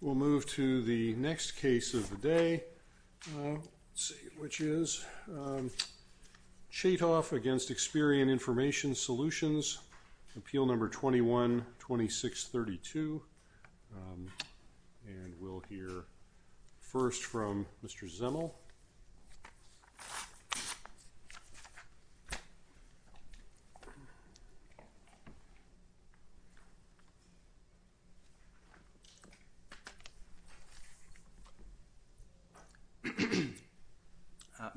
We'll move to the next case of the day, which is Chaitoff v. Experian Information Solutions, Appeal No. 21-2632, and we'll hear first from Mr. Zemel.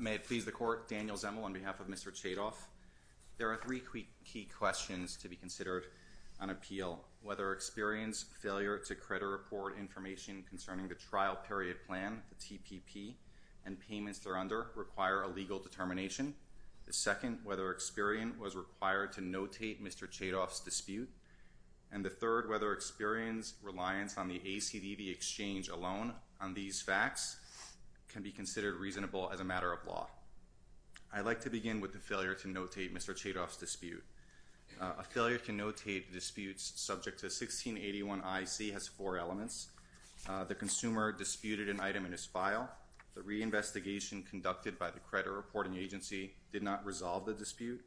May it please the Court, Daniel Zemel on behalf of Mr. Chaitoff. There are three key questions to be considered on appeal. Whether Experian's failure to credit report information concerning the trial period plan, the TPP, and payments thereunder require a legal determination. The second, whether Experian was required to notate Mr. Chaitoff's dispute. And the third, whether Experian's reliance on the ACDV exchange alone on these facts can be considered reasonable as a matter of law. I'd like to begin with the failure to notate Mr. Chaitoff's dispute. A failure to notate disputes subject to 1681 IC has four elements. The consumer disputed an item in his file. The reinvestigation conducted by the credit reporting agency did not resolve the dispute.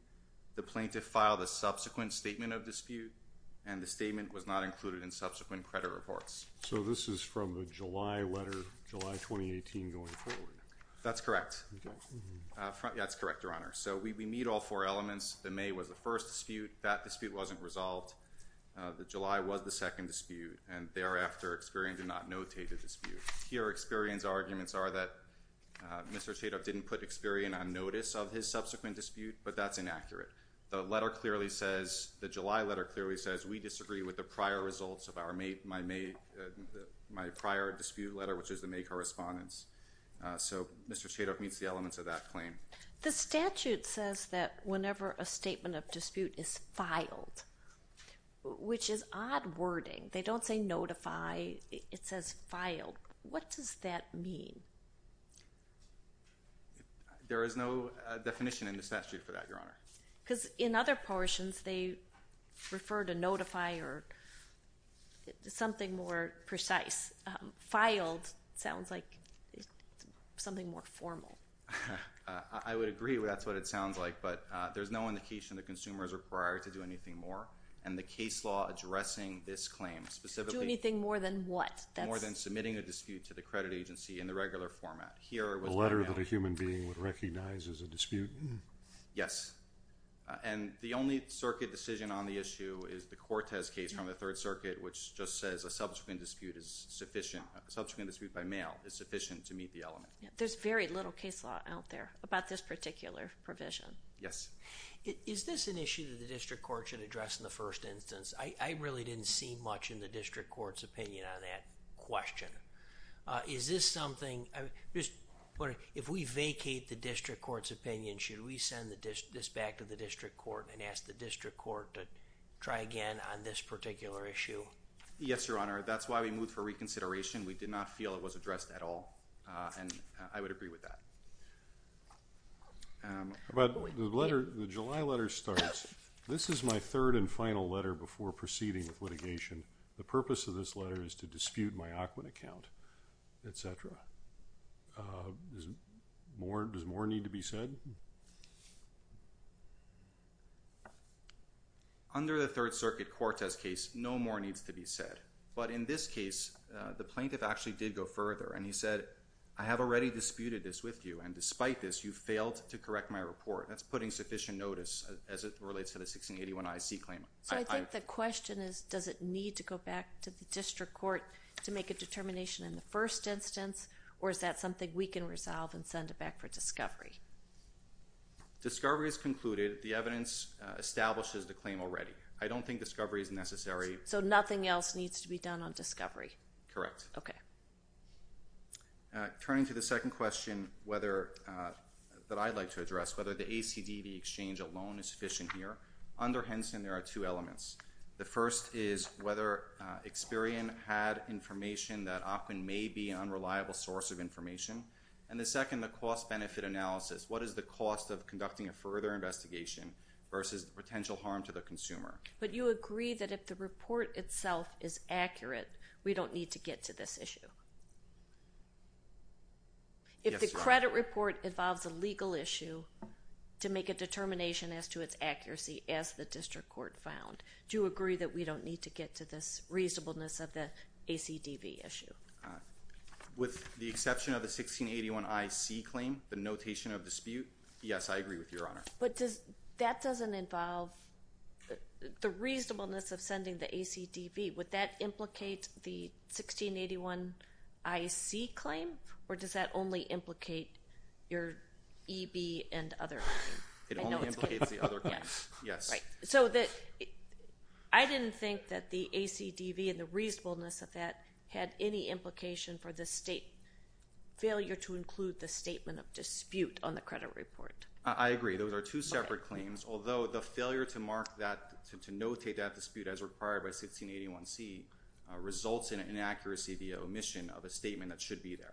The plaintiff filed a subsequent statement of dispute, and the statement was not included in subsequent credit reports. So this is from the July letter, July 2018 going forward? That's correct. That's correct, Your Honor. So we meet all four elements. The May was the first dispute. That dispute wasn't resolved. The July was the second dispute. And thereafter, Experian did not notate a dispute. Here, Experian's arguments are that Mr. Chaitoff didn't put Experian on notice of his subsequent dispute, but that's inaccurate. The letter clearly says, the July letter clearly says, we disagree with the prior results of my prior dispute letter, which is the May correspondence. So Mr. Chaitoff meets the elements of that claim. The statute says that whenever a statement of dispute is filed, which is odd wording. They don't say notify. It says filed. What does that mean? There is no definition in the statute for that, Your Honor. Because in other portions, they refer to notify or something more precise. Filed sounds like something more formal. I would agree. That's what it sounds like. But there's no indication that consumers are required to do anything more. And the case law addressing this claim specifically. Do anything more than what? More than submitting a dispute to the credit agency in the regular format. A letter that a human being would recognize as a dispute? Yes. And the only circuit decision on the issue is the Cortez case from the Third Circuit, which just says a subsequent dispute is sufficient. A subsequent dispute by mail is sufficient to meet the element. There's very little case law out there about this particular provision. Yes. Is this an issue that the district court should address in the first instance? I really didn't see much in the district court's opinion on that question. If we vacate the district court's opinion, should we send this back to the district court and ask the district court to try again on this particular issue? Yes, Your Honor. That's why we moved for reconsideration. We did not feel it was addressed at all. And I would agree with that. The July letter starts, This is my third and final letter before proceeding with litigation. The purpose of this letter is to dispute my ACWA account, etc. Does more need to be said? Under the Third Circuit Cortez case, no more needs to be said. But in this case, the plaintiff actually did go further, and he said, I have already disputed this with you, and despite this, you failed to correct my report. That's putting sufficient notice as it relates to the 1681 IC claim. So I think the question is, does it need to go back to the district court to make a determination in the first instance, or is that something we can resolve and send it back for discovery? Discovery is concluded. The evidence establishes the claim already. I don't think discovery is necessary. So nothing else needs to be done on discovery? Correct. Turning to the second question that I'd like to address, whether the ACDB exchange alone is sufficient here, under Henson, there are two elements. The first is whether Experian had information that often may be an unreliable source of information. And the second, the cost-benefit analysis. What is the cost of conducting a further investigation versus potential harm to the consumer? But you agree that if the report itself is accurate, we don't need to get to this issue? Yes, Your Honor. If the credit report involves a legal issue to make a determination as to its accuracy as the district court found, do you agree that we don't need to get to this reasonableness of the ACDB issue? With the exception of the 1681 IC claim, the notation of dispute, yes, I agree with Your Honor. But that doesn't involve the reasonableness of sending the ACDB. Would that implicate the 1681 IC claim, or does that only implicate your EB and other claim? It only implicates the other claim, yes. Right. So I didn't think that the ACDB and the reasonableness of that had any implication for the state failure to include the statement of dispute on the credit report. I agree. Those are two separate claims, although the failure to mark that, to notate that dispute as required by 1681 C results in an inaccuracy, the omission of a statement that should be there.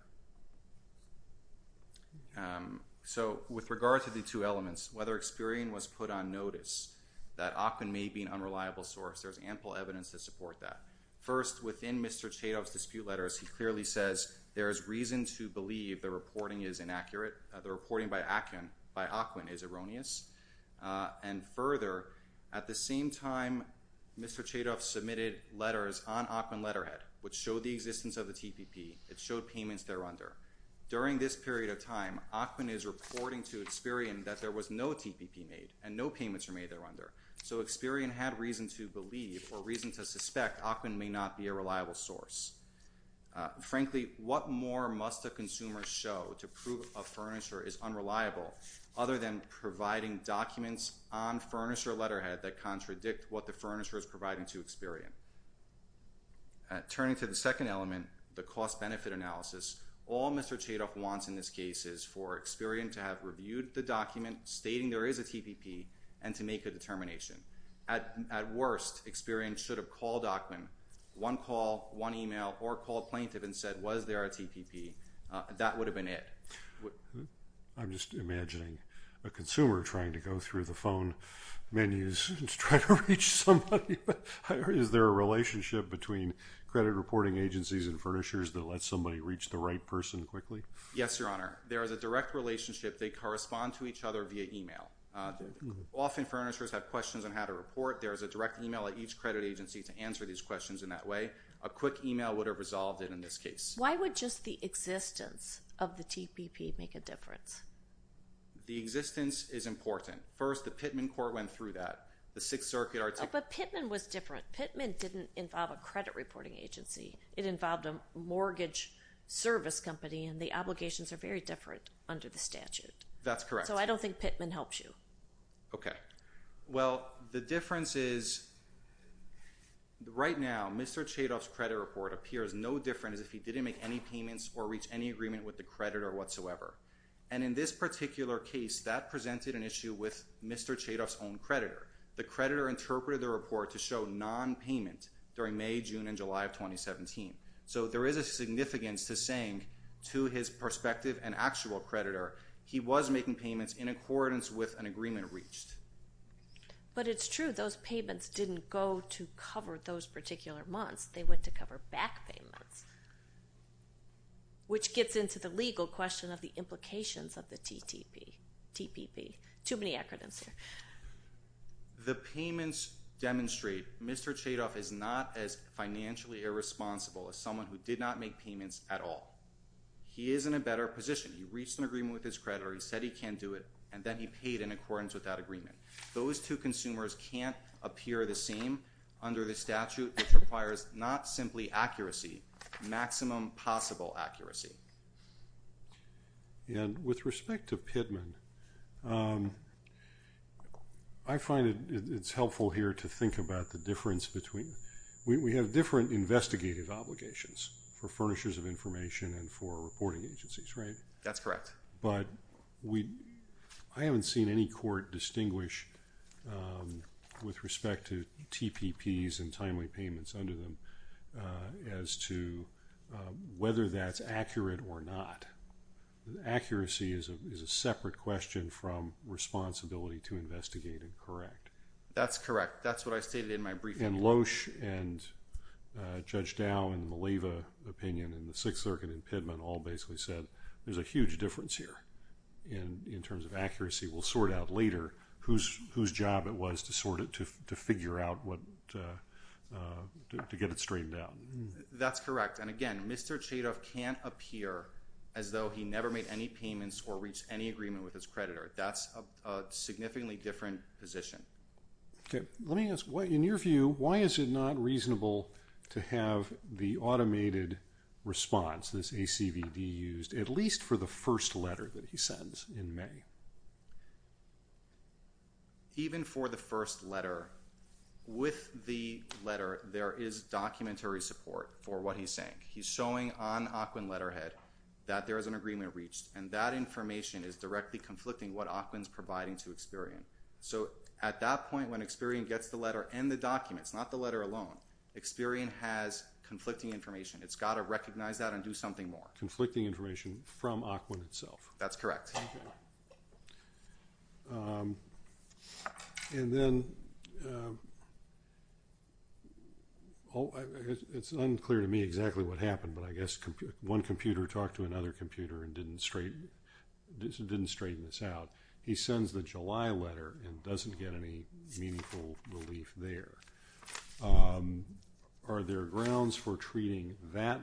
So with regard to the two elements, whether Experian was put on notice, that Ackman may be an unreliable source, there's ample evidence to support that. First, within Mr. Chadov's dispute letters, he clearly says there is reason to believe the reporting is inaccurate. The reporting by Ackman is erroneous. And further, at the same time, Mr. Chadov submitted letters on Ackman letterhead which showed the existence of the TPP. It showed payments thereunder. During this period of time, Ackman is reporting to Experian that there was no TPP made and no payments were made thereunder. So Experian had reason to believe or reason to suspect Ackman may not be a reliable source. Frankly, what more must a consumer show to prove a furniture is unreliable other than providing documents on furniture letterhead that contradict what the furniture is providing to Experian? Turning to the second element, the cost-benefit analysis, all Mr. Chadov wants in this case is for Experian to have reviewed the document stating there is a TPP and to make a determination. At worst, Experian should have called Ackman one call, one email, or called plaintiff and said, was there a TPP? That would have been it. I'm just imagining a consumer trying to go through the phone menus to try to reach somebody. Is there a relationship between credit reporting agencies and furnishers that lets somebody reach the right person quickly? Yes, Your Honor. There is a direct relationship. They correspond to each other via email. Often furnishers have questions on how to report. There is a direct email at each credit agency to answer these questions in that way. A quick email would have resolved it in this case. Why would just the existence of the TPP make a difference? The existence is important. First, the Pittman court went through that. The Sixth Circuit articulated it. But Pittman was different. Pittman didn't involve a credit reporting agency. It involved a mortgage service company, and the obligations are very different under the statute. That's correct. So I don't think Pittman helps you. Okay. Well, the difference is, right now, Mr. Chadoff's credit report appears no different as if he didn't make any payments or reach any agreement with the creditor whatsoever. And in this particular case, that presented an issue with Mr. Chadoff's own creditor. The creditor interpreted the report to show nonpayment during May, June, and July of 2017. So there is a significance to saying, to his perspective and actual creditor, he was making payments in accordance with an agreement reached. But it's true. Those payments didn't go to cover those particular months. They went to cover back payments, which gets into the legal question of the implications of the TPP. Too many acronyms here. The payments demonstrate Mr. Chadoff is not as financially irresponsible as someone who did not make payments at all. He is in a better position. He reached an agreement with his creditor. He said he can't do it, and then he paid in accordance with that agreement. Those two consumers can't appear the same under the statute, which requires not simply accuracy, maximum possible accuracy. And with respect to Pittman, I find it's helpful here to think about the difference between – we have different investigative obligations for furnishers of information and for reporting agencies, right? That's correct. But I haven't seen any court distinguish with respect to TPPs and timely payments under them as to whether that's accurate or not. Accuracy is a separate question from responsibility to investigate and correct. That's correct. That's what I stated in my briefing. And Loesch and Judge Dow and Maleva's opinion in the Sixth Circuit and Pittman all basically said there's a huge difference here in terms of accuracy. We'll sort out later whose job it was to sort it, to figure out what – to get it straightened out. That's correct. And, again, Mr. Chadoff can't appear as though he never made any payments or reached any agreement with his creditor. That's a significantly different position. Okay. Let me ask, in your view, why is it not reasonable to have the automated response, this ACVD used, at least for the first letter that he sends in May? Even for the first letter, with the letter, there is documentary support for what he's saying. He's showing on OQIN letterhead that there is an agreement reached, and that information is directly conflicting what OQIN is providing to Experian. So at that point, when Experian gets the letter and the documents, not the letter alone, Experian has conflicting information. It's got to recognize that and do something more. Conflicting information from OQIN itself. That's correct. Okay. And then – it's unclear to me exactly what happened, but I guess one computer talked to another computer and didn't straighten this out. He sends the July letter and doesn't get any meaningful relief there. Are there grounds for treating that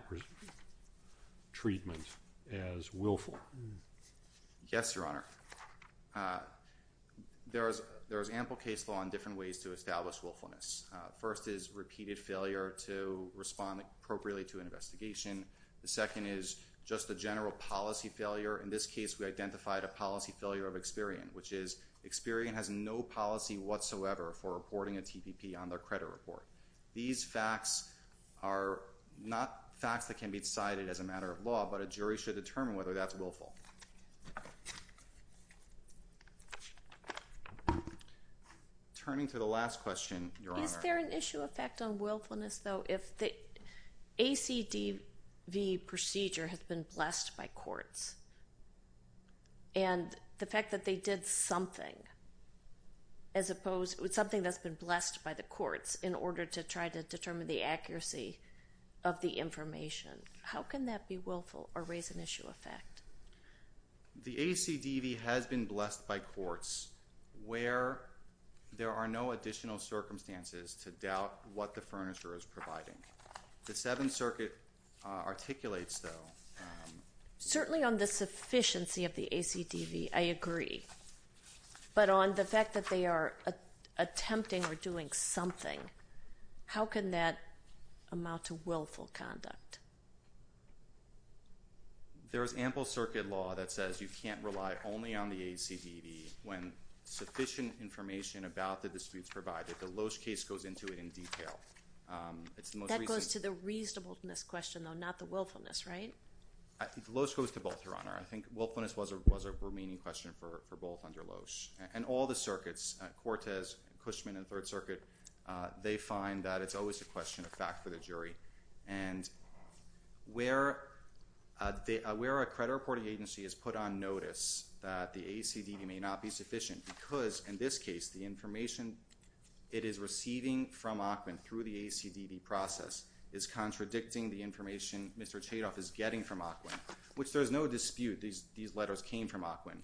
treatment as willful? Yes, Your Honor. There is ample case law in different ways to establish willfulness. First is repeated failure to respond appropriately to an investigation. The second is just a general policy failure. In this case, we identified a policy failure of Experian, which is Experian has no policy whatsoever for reporting a TPP on their credit report. These facts are not facts that can be decided as a matter of law, but a jury should determine whether that's willful. Turning to the last question, Your Honor. Is there an issue effect on willfulness, though, if the ACDV procedure has been blessed by courts? And the fact that they did something as opposed – something that's been blessed by the courts in order to try to determine the accuracy of the information. How can that be willful or raise an issue effect? The ACDV has been blessed by courts where there are no additional circumstances to doubt what the furnisher is providing. The Seventh Circuit articulates, though – Certainly on the sufficiency of the ACDV, I agree. But on the fact that they are attempting or doing something, how can that amount to willful conduct? There is ample circuit law that says you can't rely only on the ACDV when sufficient information about the disputes provided. The Loesch case goes into it in detail. That goes to the reasonableness question, though, not the willfulness, right? The Loesch goes to both, Your Honor. I think willfulness was a remaining question for both under Loesch. And all the circuits – Cortez, Cushman, and Third Circuit – they find that it's always a question of fact for the jury. And where a credit reporting agency has put on notice that the ACDV may not be sufficient because, in this case, the information it is receiving from Ackman through the ACDV process is contradicting the information Mr. Chadoff is getting from Ackman, which there is no dispute these letters came from Ackman,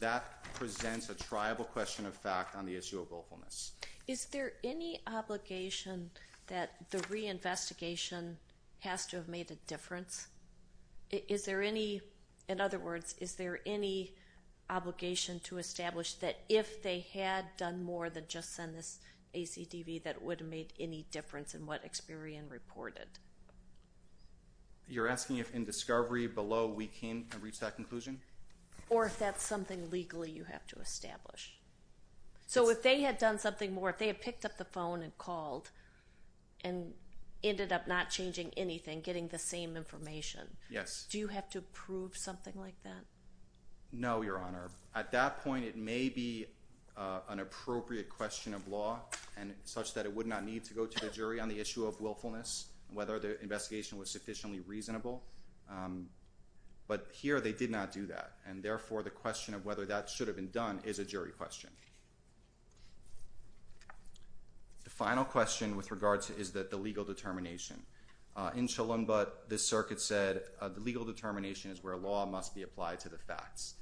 that presents a triable question of fact on the issue of willfulness. Is there any obligation that the reinvestigation has to have made a difference? Is there any – in other words, is there any obligation to establish that if they had done more than just send this ACDV, that it would have made any difference in what Experian reported? You're asking if, in discovery below, we came to reach that conclusion? Or if that's something legally you have to establish. So if they had done something more, if they had picked up the phone and called and ended up not changing anything, getting the same information, do you have to prove something like that? No, Your Honor. At that point, it may be an appropriate question of law such that it would not need to go to the jury on the issue of willfulness, whether the investigation was sufficiently reasonable. But here they did not do that. And therefore, the question of whether that should have been done is a jury question. The final question with regard to is that the legal determination. In Chalumba, the circuit said the legal determination is where law must be applied to the facts.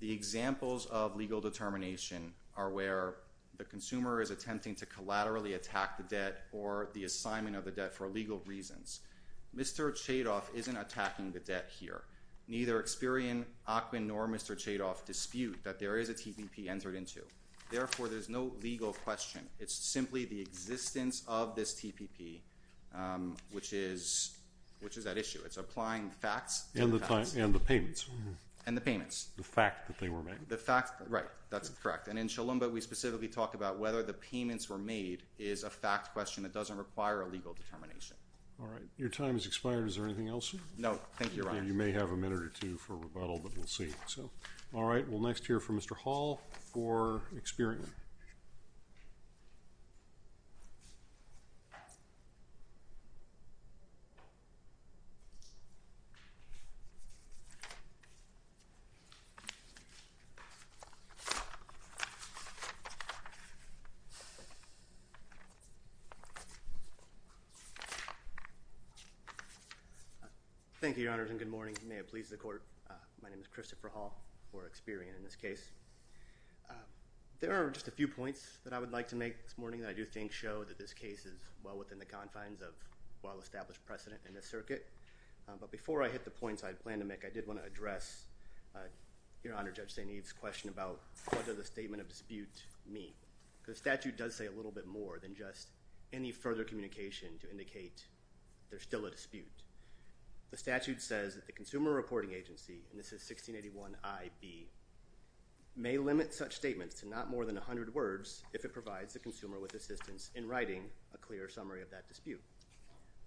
The examples of legal determination are where the consumer is attempting to collaterally attack the debt or the assignment of the debt for legal reasons. Mr. Chadoff isn't attacking the debt here. Neither Experian, Ackman, nor Mr. Chadoff dispute that there is a TPP entered into. Therefore, there's no legal question. It's simply the existence of this TPP, which is that issue. It's applying facts to the facts. And the payments. And the payments. The fact that they were made. Right. That's correct. And in Chalumba, we specifically talk about whether the payments were made is a fact question that doesn't require a legal determination. All right. Your time has expired. Is there anything else? No. Thank you, Your Honor. You may have a minute or two for rebuttal, but we'll see. All right. We'll next hear from Mr. Hall for Experian. Thank you, Your Honors. And good morning. May it please the court. My name is Christopher Hall for Experian in this case. There are just a few points that I would like to make this morning that I do think show that this case is well within the confines of well-established precedent in this circuit. But before I hit the points I had planned to make, I did want to address, Your Honor, Judge St. Eve's question about what does a statement of dispute mean? Because the statute does say a little bit more than just any further communication to indicate there's still a dispute. The statute says that the Consumer Reporting Agency, and this is 1681ib, may limit such statements to not more than 100 words if it provides the consumer with assistance in writing a clear summary of that dispute.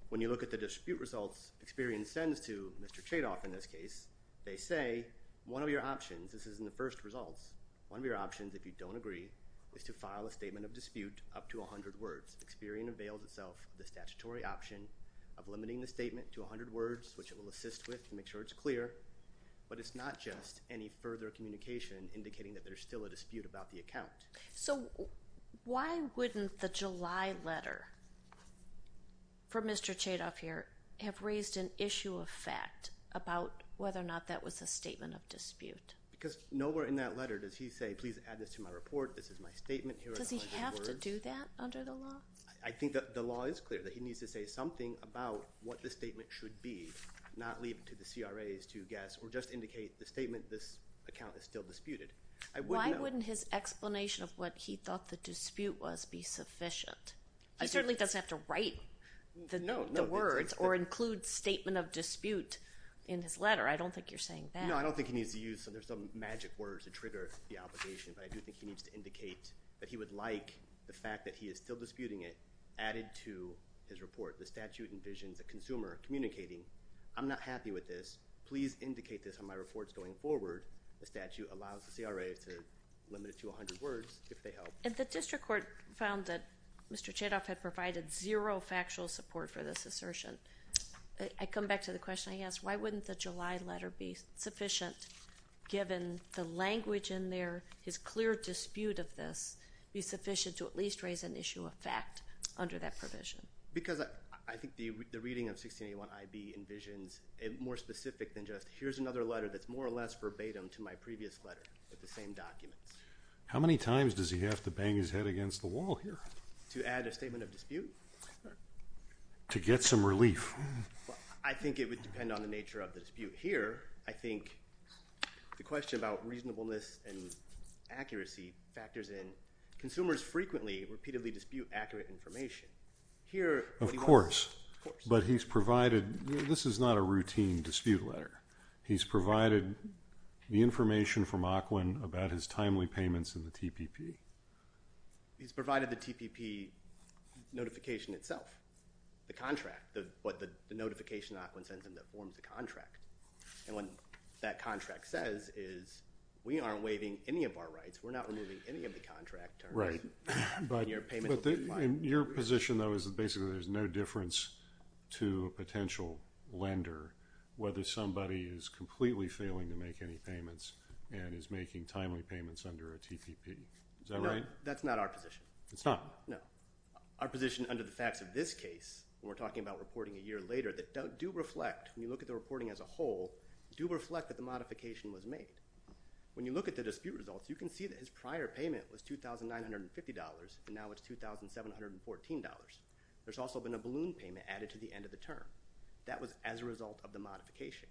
When you look at the dispute results Experian sends to Mr. Chadoff in this case, they say one of your options, this is in the first results, one of your options if you don't agree is to file a statement of dispute up to 100 words. Experian avails itself of the statutory option of limiting the statement to 100 words, which it will assist with to make sure it's clear, but it's not just any further communication indicating that there's still a dispute about the account. So why wouldn't the July letter from Mr. Chadoff here have raised an issue of fact about whether or not that was a statement of dispute? Because nowhere in that letter does he say, please add this to my report, this is my statement, here are the 100 words. Does he have to do that under the law? I think that the law is clear, that he needs to say something about what the statement should be, not leave it to the CRAs to guess or just indicate the statement, this account is still disputed. I wouldn't know. Why wouldn't his explanation of what he thought the dispute was be sufficient? He certainly doesn't have to write the words or include statement of dispute in his letter. I don't think you're saying that. No, I don't think he needs to use some magic words to trigger the obligation, but I do think he needs to indicate that he would like the fact that he is still disputing it added to his report. The statute envisions a consumer communicating, I'm not happy with this, please indicate this on my reports going forward. The statute allows the CRAs to limit it to 100 words if they help. And the district court found that Mr. Chadoff had provided zero factual support for this assertion. I come back to the question I asked, why wouldn't the July letter be sufficient given the language in there, his clear dispute of this, be sufficient to at least raise an issue of fact under that provision? Because I think the reading of 1681 IB envisions more specific than just here's another letter that's more or less verbatim to my previous letter with the same documents. How many times does he have to bang his head against the wall here? To add a statement of dispute? To get some relief. I think it would depend on the nature of the dispute. Here, I think the question about reasonableness and accuracy factors in. Consumers frequently, repeatedly dispute accurate information. Of course, but he's provided, this is not a routine dispute letter. He's provided the information from Aquin about his timely payments in the TPP. He's provided the TPP notification itself. The contract, what the notification Aquin sends him that forms the contract. And what that contract says is we aren't waiving any of our rights. We're not removing any of the contract terms. Right. And your payment will be fine. Your position, though, is that basically there's no difference to a potential lender whether somebody is completely failing to make any payments and is making timely payments under a TPP. Is that right? No, that's not our position. It's not? No. Our position under the facts of this case, when we're talking about reporting a year later, that do reflect, when you look at the reporting as a whole, do reflect that the modification was made. When you look at the dispute results, you can see that his prior payment was $2,950 and now it's $2,714. There's also been a balloon payment added to the end of the term. That was as a result of the modification.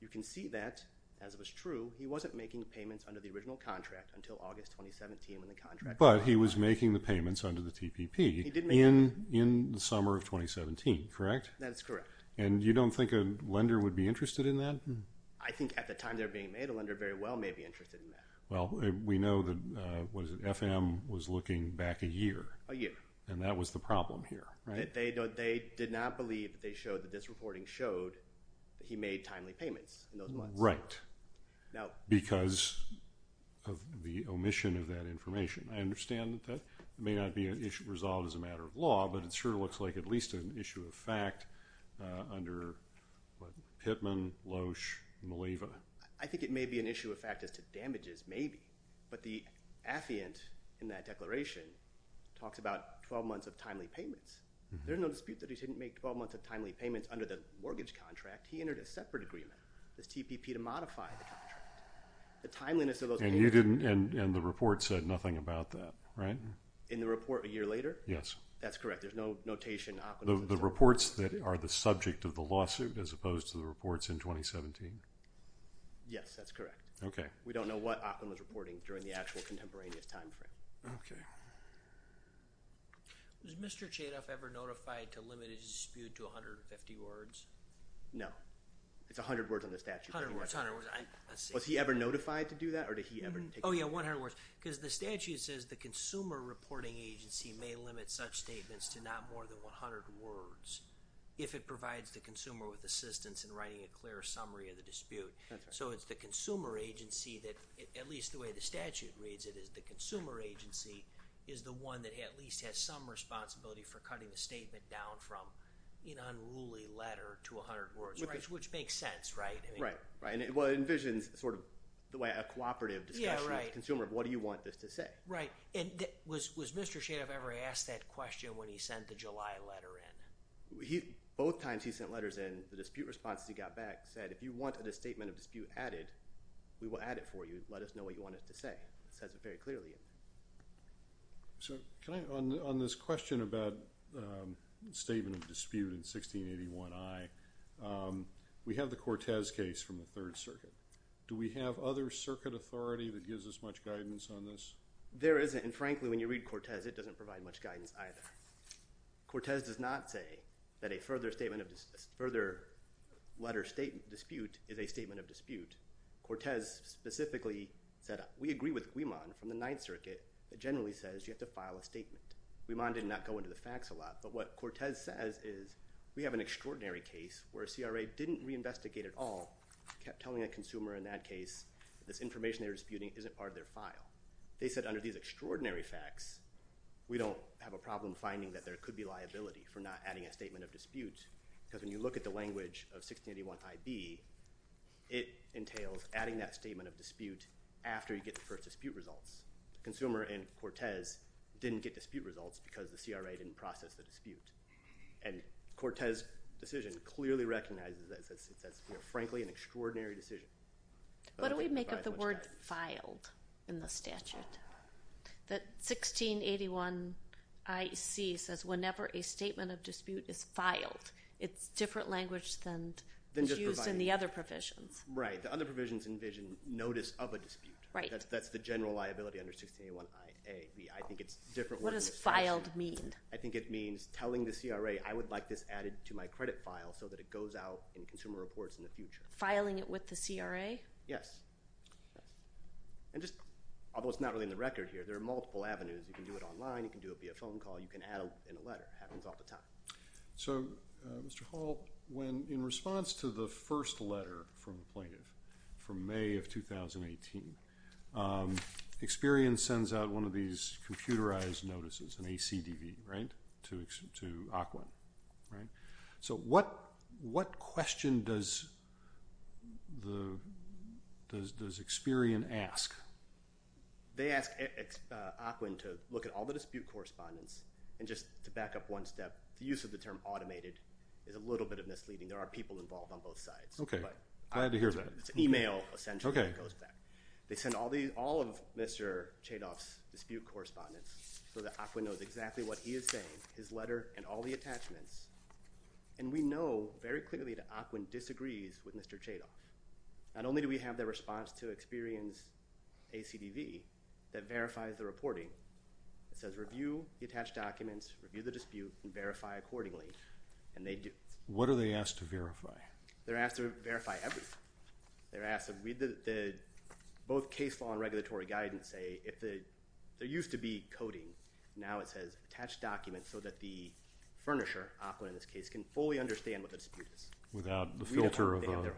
You can see that, as was true, he wasn't making payments under the original contract until August 2017 when the contract was signed. But he was making the payments under the TPP in the summer of 2017, correct? That is correct. And you don't think a lender would be interested in that? I think at the time they were being made, a lender very well may be interested in that. Well, we know that FM was looking back a year. A year. And that was the problem here, right? They did not believe that this reporting showed that he made timely payments in those months. Right. Because of the omission of that information. I understand that that may not be resolved as a matter of law, but it sure looks like at least an issue of fact under Pitman, Loesch, and Maleva. I think it may be an issue of fact as to damages, maybe. But the affiant in that declaration talks about 12 months of timely payments. There's no dispute that he didn't make 12 months of timely payments under the mortgage contract. He entered a separate agreement, this TPP, to modify the contract. The timeliness of those payments. And the report said nothing about that, right? In the report a year later? Yes. That's correct. There's no notation. The reports that are the subject of the lawsuit as opposed to the reports in 2017? Yes, that's correct. Okay. We don't know what Optum was reporting during the actual contemporaneous time frame. Okay. Was Mr. Chadoff ever notified to limit his dispute to 150 words? No. It's 100 words on the statute. 100 words, 100 words. Was he ever notified to do that or did he ever take it? Oh, yeah, 100 words. Because the statute says the consumer reporting agency may limit such statements to not more than 100 words if it provides the consumer with assistance in writing a clear summary of the dispute. That's right. So it's the consumer agency that, at least the way the statute reads it, is the consumer agency is the one that at least has some responsibility for cutting the statement down from an unruly letter to 100 words, which makes sense, right? Right. Well, it envisions sort of a cooperative discussion with the consumer of what do you want this to say. Right. And was Mr. Chadoff ever asked that question when he sent the July letter in? Both times he sent letters in, the dispute response he got back said, if you want a statement of dispute added, we will add it for you. Let us know what you want us to say. It says it very clearly. So on this question about statement of dispute in 1681I, we have the Cortez case from the Third Circuit. Do we have other circuit authority that gives us much guidance on this? There isn't, and frankly, when you read Cortez, it doesn't provide much guidance either. Cortez does not say that a further letter dispute is a statement of dispute. Cortez specifically said we agree with Guiman from the Ninth Circuit. It generally says you have to file a statement. Guiman did not go into the facts a lot, but what Cortez says is we have an extraordinary case where a CRA didn't reinvestigate at all, kept telling a consumer in that case that this information they were disputing isn't part of their file. They said under these extraordinary facts, we don't have a problem finding that there could be liability for not adding a statement of dispute because when you look at the language of 1681IB, it entails adding that statement of dispute after you get the first dispute results. The consumer in Cortez didn't get dispute results because the CRA didn't process the dispute, and Cortez's decision clearly recognizes that it's, frankly, an extraordinary decision. What do we make of the word filed in the statute? That 1681IC says whenever a statement of dispute is filed, it's different language than is used in the other provisions. Right. The other provisions envision notice of a dispute. Right. That's the general liability under 1681IA. What does filed mean? I think it means telling the CRA I would like this added to my credit file so that it goes out in consumer reports in the future. Filing it with the CRA? Yes. And just, although it's not really in the record here, there are multiple avenues. You can do it online. You can do it via phone call. You can add it in a letter. It happens all the time. So, Mr. Hall, when in response to the first letter from the plaintiff from May of 2018, Experian sends out one of these computerized notices, an ACDB, right, to Auckland, right? So, what question does Experian ask? They ask Auckland to look at all the dispute correspondence. And just to back up one step, the use of the term automated is a little bit misleading. There are people involved on both sides. Okay. Glad to hear that. It's email, essentially, that goes back. They send all of Mr. Chadoff's dispute correspondence so that Auckland knows exactly what he is saying, his letter, and all the attachments. And we know very clearly that Auckland disagrees with Mr. Chadoff. Not only do we have the response to Experian's ACDB that verifies the reporting, it says review the attached documents, review the dispute, and verify accordingly. And they do. What are they asked to verify? They're asked to verify everything. They're asked to read both case law and regulatory guidance. There used to be coding. Now it says attach documents so that the furnisher, Auckland in this case, can fully understand what the dispute is. They have their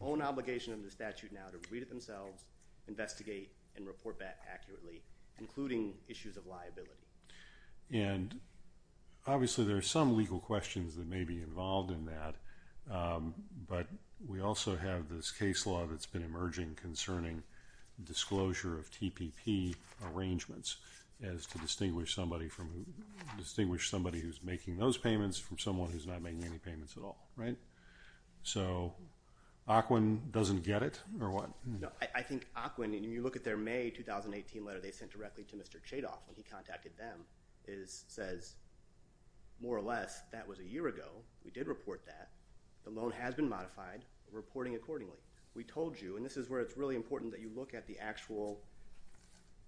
own obligation under the statute now to read it themselves, investigate, and report back accurately, including issues of liability. And, obviously, there are some legal questions that may be involved in that. But we also have this case law that's been emerging concerning disclosure of TPP arrangements as to distinguish somebody who's making those payments from someone who's not making any payments at all. So Auckland doesn't get it or what? No, I think Auckland, and you look at their May 2018 letter they sent directly to Mr. Chadoff when he contacted them, says more or less that was a year ago. We did report that. The loan has been modified. We're reporting accordingly. We told you, and this is where it's really important that you look at the actual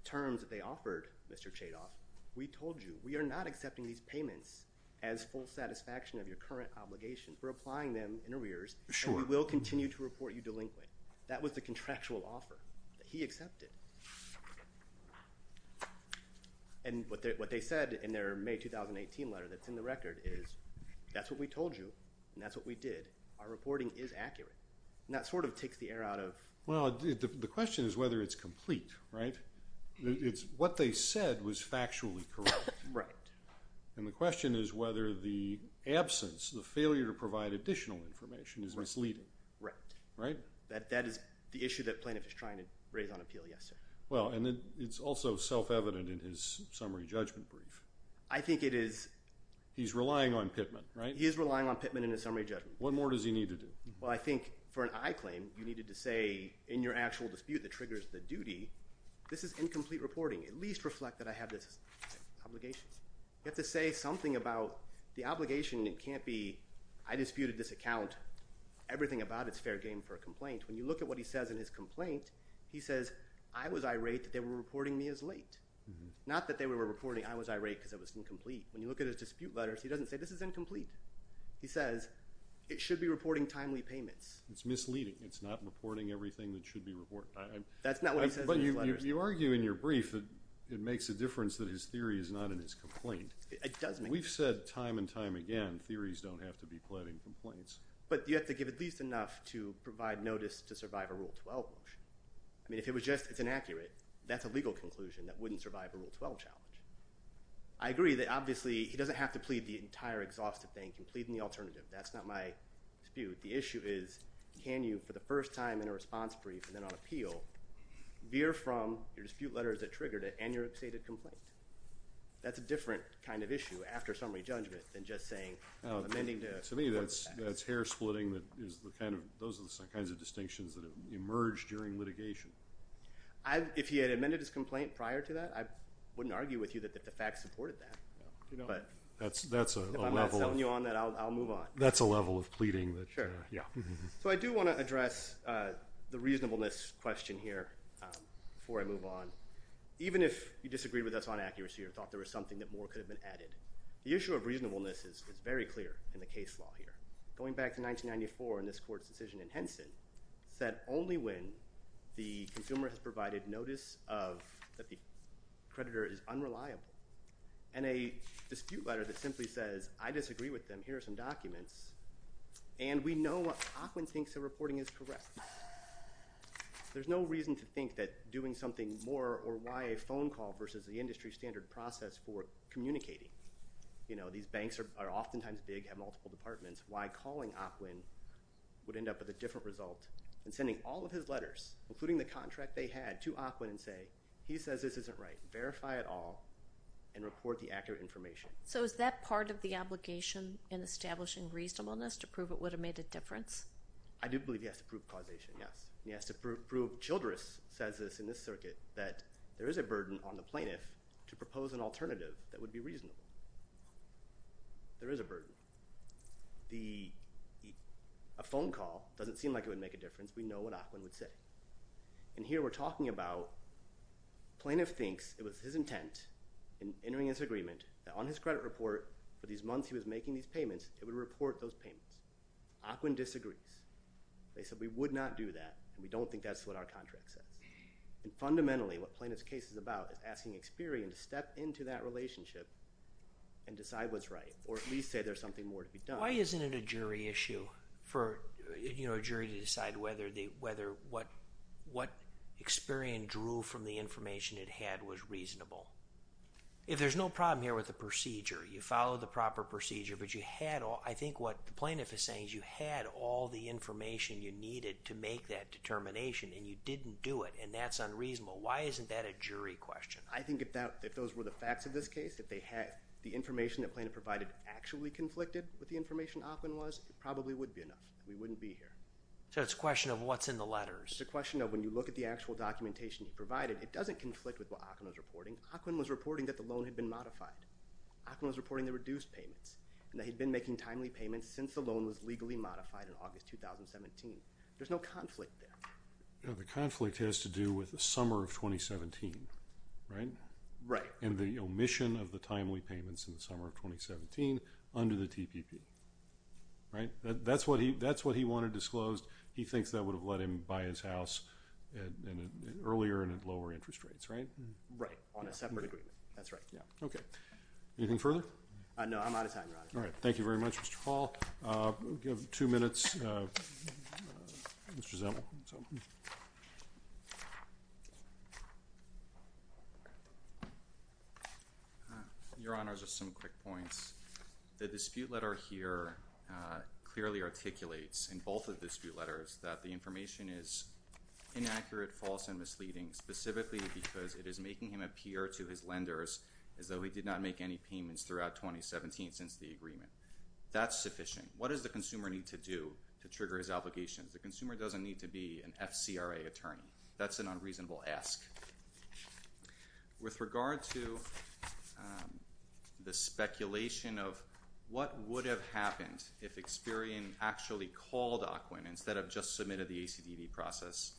terms that they offered Mr. Chadoff. We told you we are not accepting these payments as full satisfaction of your current obligation. We're applying them in arrears, and we will continue to report you delinquent. That was the contractual offer that he accepted. And what they said in their May 2018 letter that's in the record is that's what we told you, and that's what we did. Our reporting is accurate. And that sort of takes the air out of – Well, the question is whether it's complete, right? It's what they said was factually correct. Right. And the question is whether the absence, the failure to provide additional information is misleading. Right. Right? That is the issue that plaintiff is trying to raise on appeal, yes, sir. Well, and it's also self-evident in his summary judgment brief. I think it is – He's relying on Pittman, right? He is relying on Pittman in his summary judgment. What more does he need to do? Well, I think for an I claim, you needed to say in your actual dispute that triggers the duty, this is incomplete reporting. At least reflect that I have this obligation. You have to say something about the obligation. It can't be I disputed this account. Everything about it is fair game for a complaint. When you look at what he says in his complaint, he says, I was irate that they were reporting me as late. Not that they were reporting I was irate because it was incomplete. When you look at his dispute letters, he doesn't say this is incomplete. He says it should be reporting timely payments. It's misleading. It's not reporting everything that should be reported. That's not what he says in his letters. But you argue in your brief that it makes a difference that his theory is not in his complaint. It does make a difference. We've said time and time again, theories don't have to be quite in complaints. But you have to give at least enough to provide notice to survive a Rule 12 motion. I mean, if it was just it's inaccurate, that's a legal conclusion that wouldn't survive a Rule 12 challenge. I agree that, obviously, he doesn't have to plead the entire exhaustive thing. He can plead in the alternative. That's not my dispute. The issue is, can you, for the first time in a response brief and then on appeal, veer from your dispute letters that triggered it and your updated complaint? That's a different kind of issue after summary judgment than just saying, I'm amending to report the facts. To me, that's hair splitting. Those are the kinds of distinctions that have emerged during litigation. If he had amended his complaint prior to that, I wouldn't argue with you that the facts supported that. That's a level. If I'm not selling you on that, I'll move on. That's a level of pleading. Sure. So I do want to address the reasonableness question here before I move on. Even if you disagreed with us on accuracy or thought there was something that more could have been added, the issue of reasonableness is very clear in the case law here. Going back to 1994 in this court's decision in Henson, said only when the consumer has provided notice that the creditor is unreliable and a dispute letter that simply says, I disagree with them. Here are some documents. And we know what Ockwin thinks the reporting is correct. There's no reason to think that doing something more or why a phone call versus the industry standard process for communicating. These banks are oftentimes big, have multiple departments. Why calling Ockwin would end up with a different result than sending all of his letters, including the contract they had, to Ockwin and say, he says this isn't right. Verify it all and report the accurate information. So is that part of the obligation in establishing reasonableness to prove it would have made a difference? I do believe he has to prove causation, yes. He has to prove Childress says this in this circuit that there is a burden on the plaintiff to propose an alternative that would be reasonable. There is a burden. A phone call doesn't seem like it would make a difference. We know what Ockwin would say. And here we're talking about plaintiff thinks it was his intent in entering his agreement that on his credit report for these months he was making these payments, it would report those payments. Ockwin disagrees. They said we would not do that and we don't think that's what our contract says. And fundamentally, what plaintiff's case is about is asking Experian to step into that relationship and decide what's right or at least say there's something more to be done. Why isn't it a jury issue for a jury to decide whether what Experian drew from the information it had was reasonable? If there's no problem here with the procedure, you follow the proper procedure, but I think what the plaintiff is saying is you had all the information you needed to make that determination and you didn't do it and that's unreasonable. Why isn't that a jury question? I think if those were the facts of this case, if they had the information that plaintiff provided actually conflicted with the information Ockwin was, it probably would be enough. We wouldn't be here. So it's a question of what's in the letters. It's a question of when you look at the actual documentation provided, it doesn't conflict with what Ockwin was reporting. Ockwin was reporting that the loan had been modified. Ockwin was reporting the reduced payments and that he'd been making timely payments since the loan was legally modified in August 2017. There's no conflict there. The conflict has to do with the summer of 2017, right? Right. And the omission of the timely payments in the summer of 2017 under the TPP, right? That's what he wanted disclosed. He thinks that would have let him buy his house earlier and at lower interest rates, right? Right, on a separate agreement. That's right. Okay. Anything further? No, I'm out of time, Ron. All right. Thank you very much, Mr. Hall. We have two minutes. Mr. Zemel. Your Honor, just some quick points. The dispute letter here clearly articulates in both of the dispute letters that the information is inaccurate, false, and misleading, specifically because it is making him appear to his lenders as though he did not make any payments throughout 2017 since the agreement. That's sufficient. What does the consumer need to do to trigger his obligations? The consumer doesn't need to be an FCRA attorney. That's an unreasonable ask. With regard to the speculation of what would have happened if Experian actually called AQUIN instead of just submitted the ACDD process,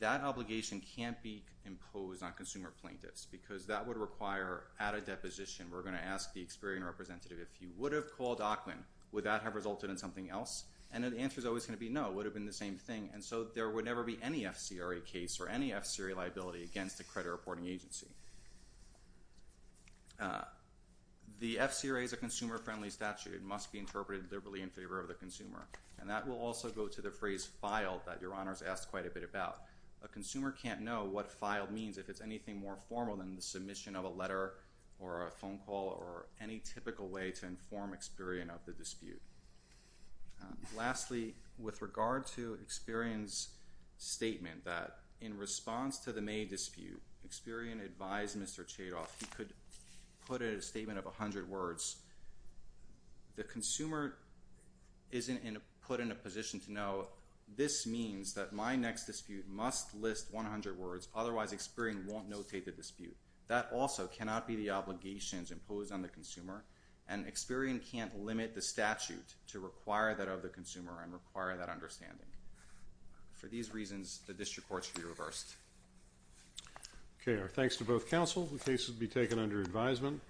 that obligation can't be imposed on consumer plaintiffs because that would require, at a deposition, we're going to ask the Experian representative, if you would have called AQUIN, would that have resulted in something else? The answer is always going to be no. It would have been the same thing. There would never be any FCRA case or any FCRA liability against a credit reporting agency. The FCRA is a consumer-friendly statute. It must be interpreted liberally in favor of the consumer. That will also go to the phrase filed that Your Honor has asked quite a bit about. A consumer can't know what filed means if it's anything more formal than the submission of a letter or a phone call or any typical way to inform Experian of the dispute. Lastly, with regard to Experian's statement that, in response to the May dispute, Experian advised Mr. Chadoff he could put in a statement of 100 words. The consumer isn't put in a position to know, this means that my next dispute must list 100 words, otherwise Experian won't notate the dispute. That also cannot be the obligations imposed on the consumer, and Experian can't limit the statute to require that of the consumer and require that understanding. For these reasons, the district court should be reversed. Okay. Our thanks to both counsel. The case will be taken under advisement.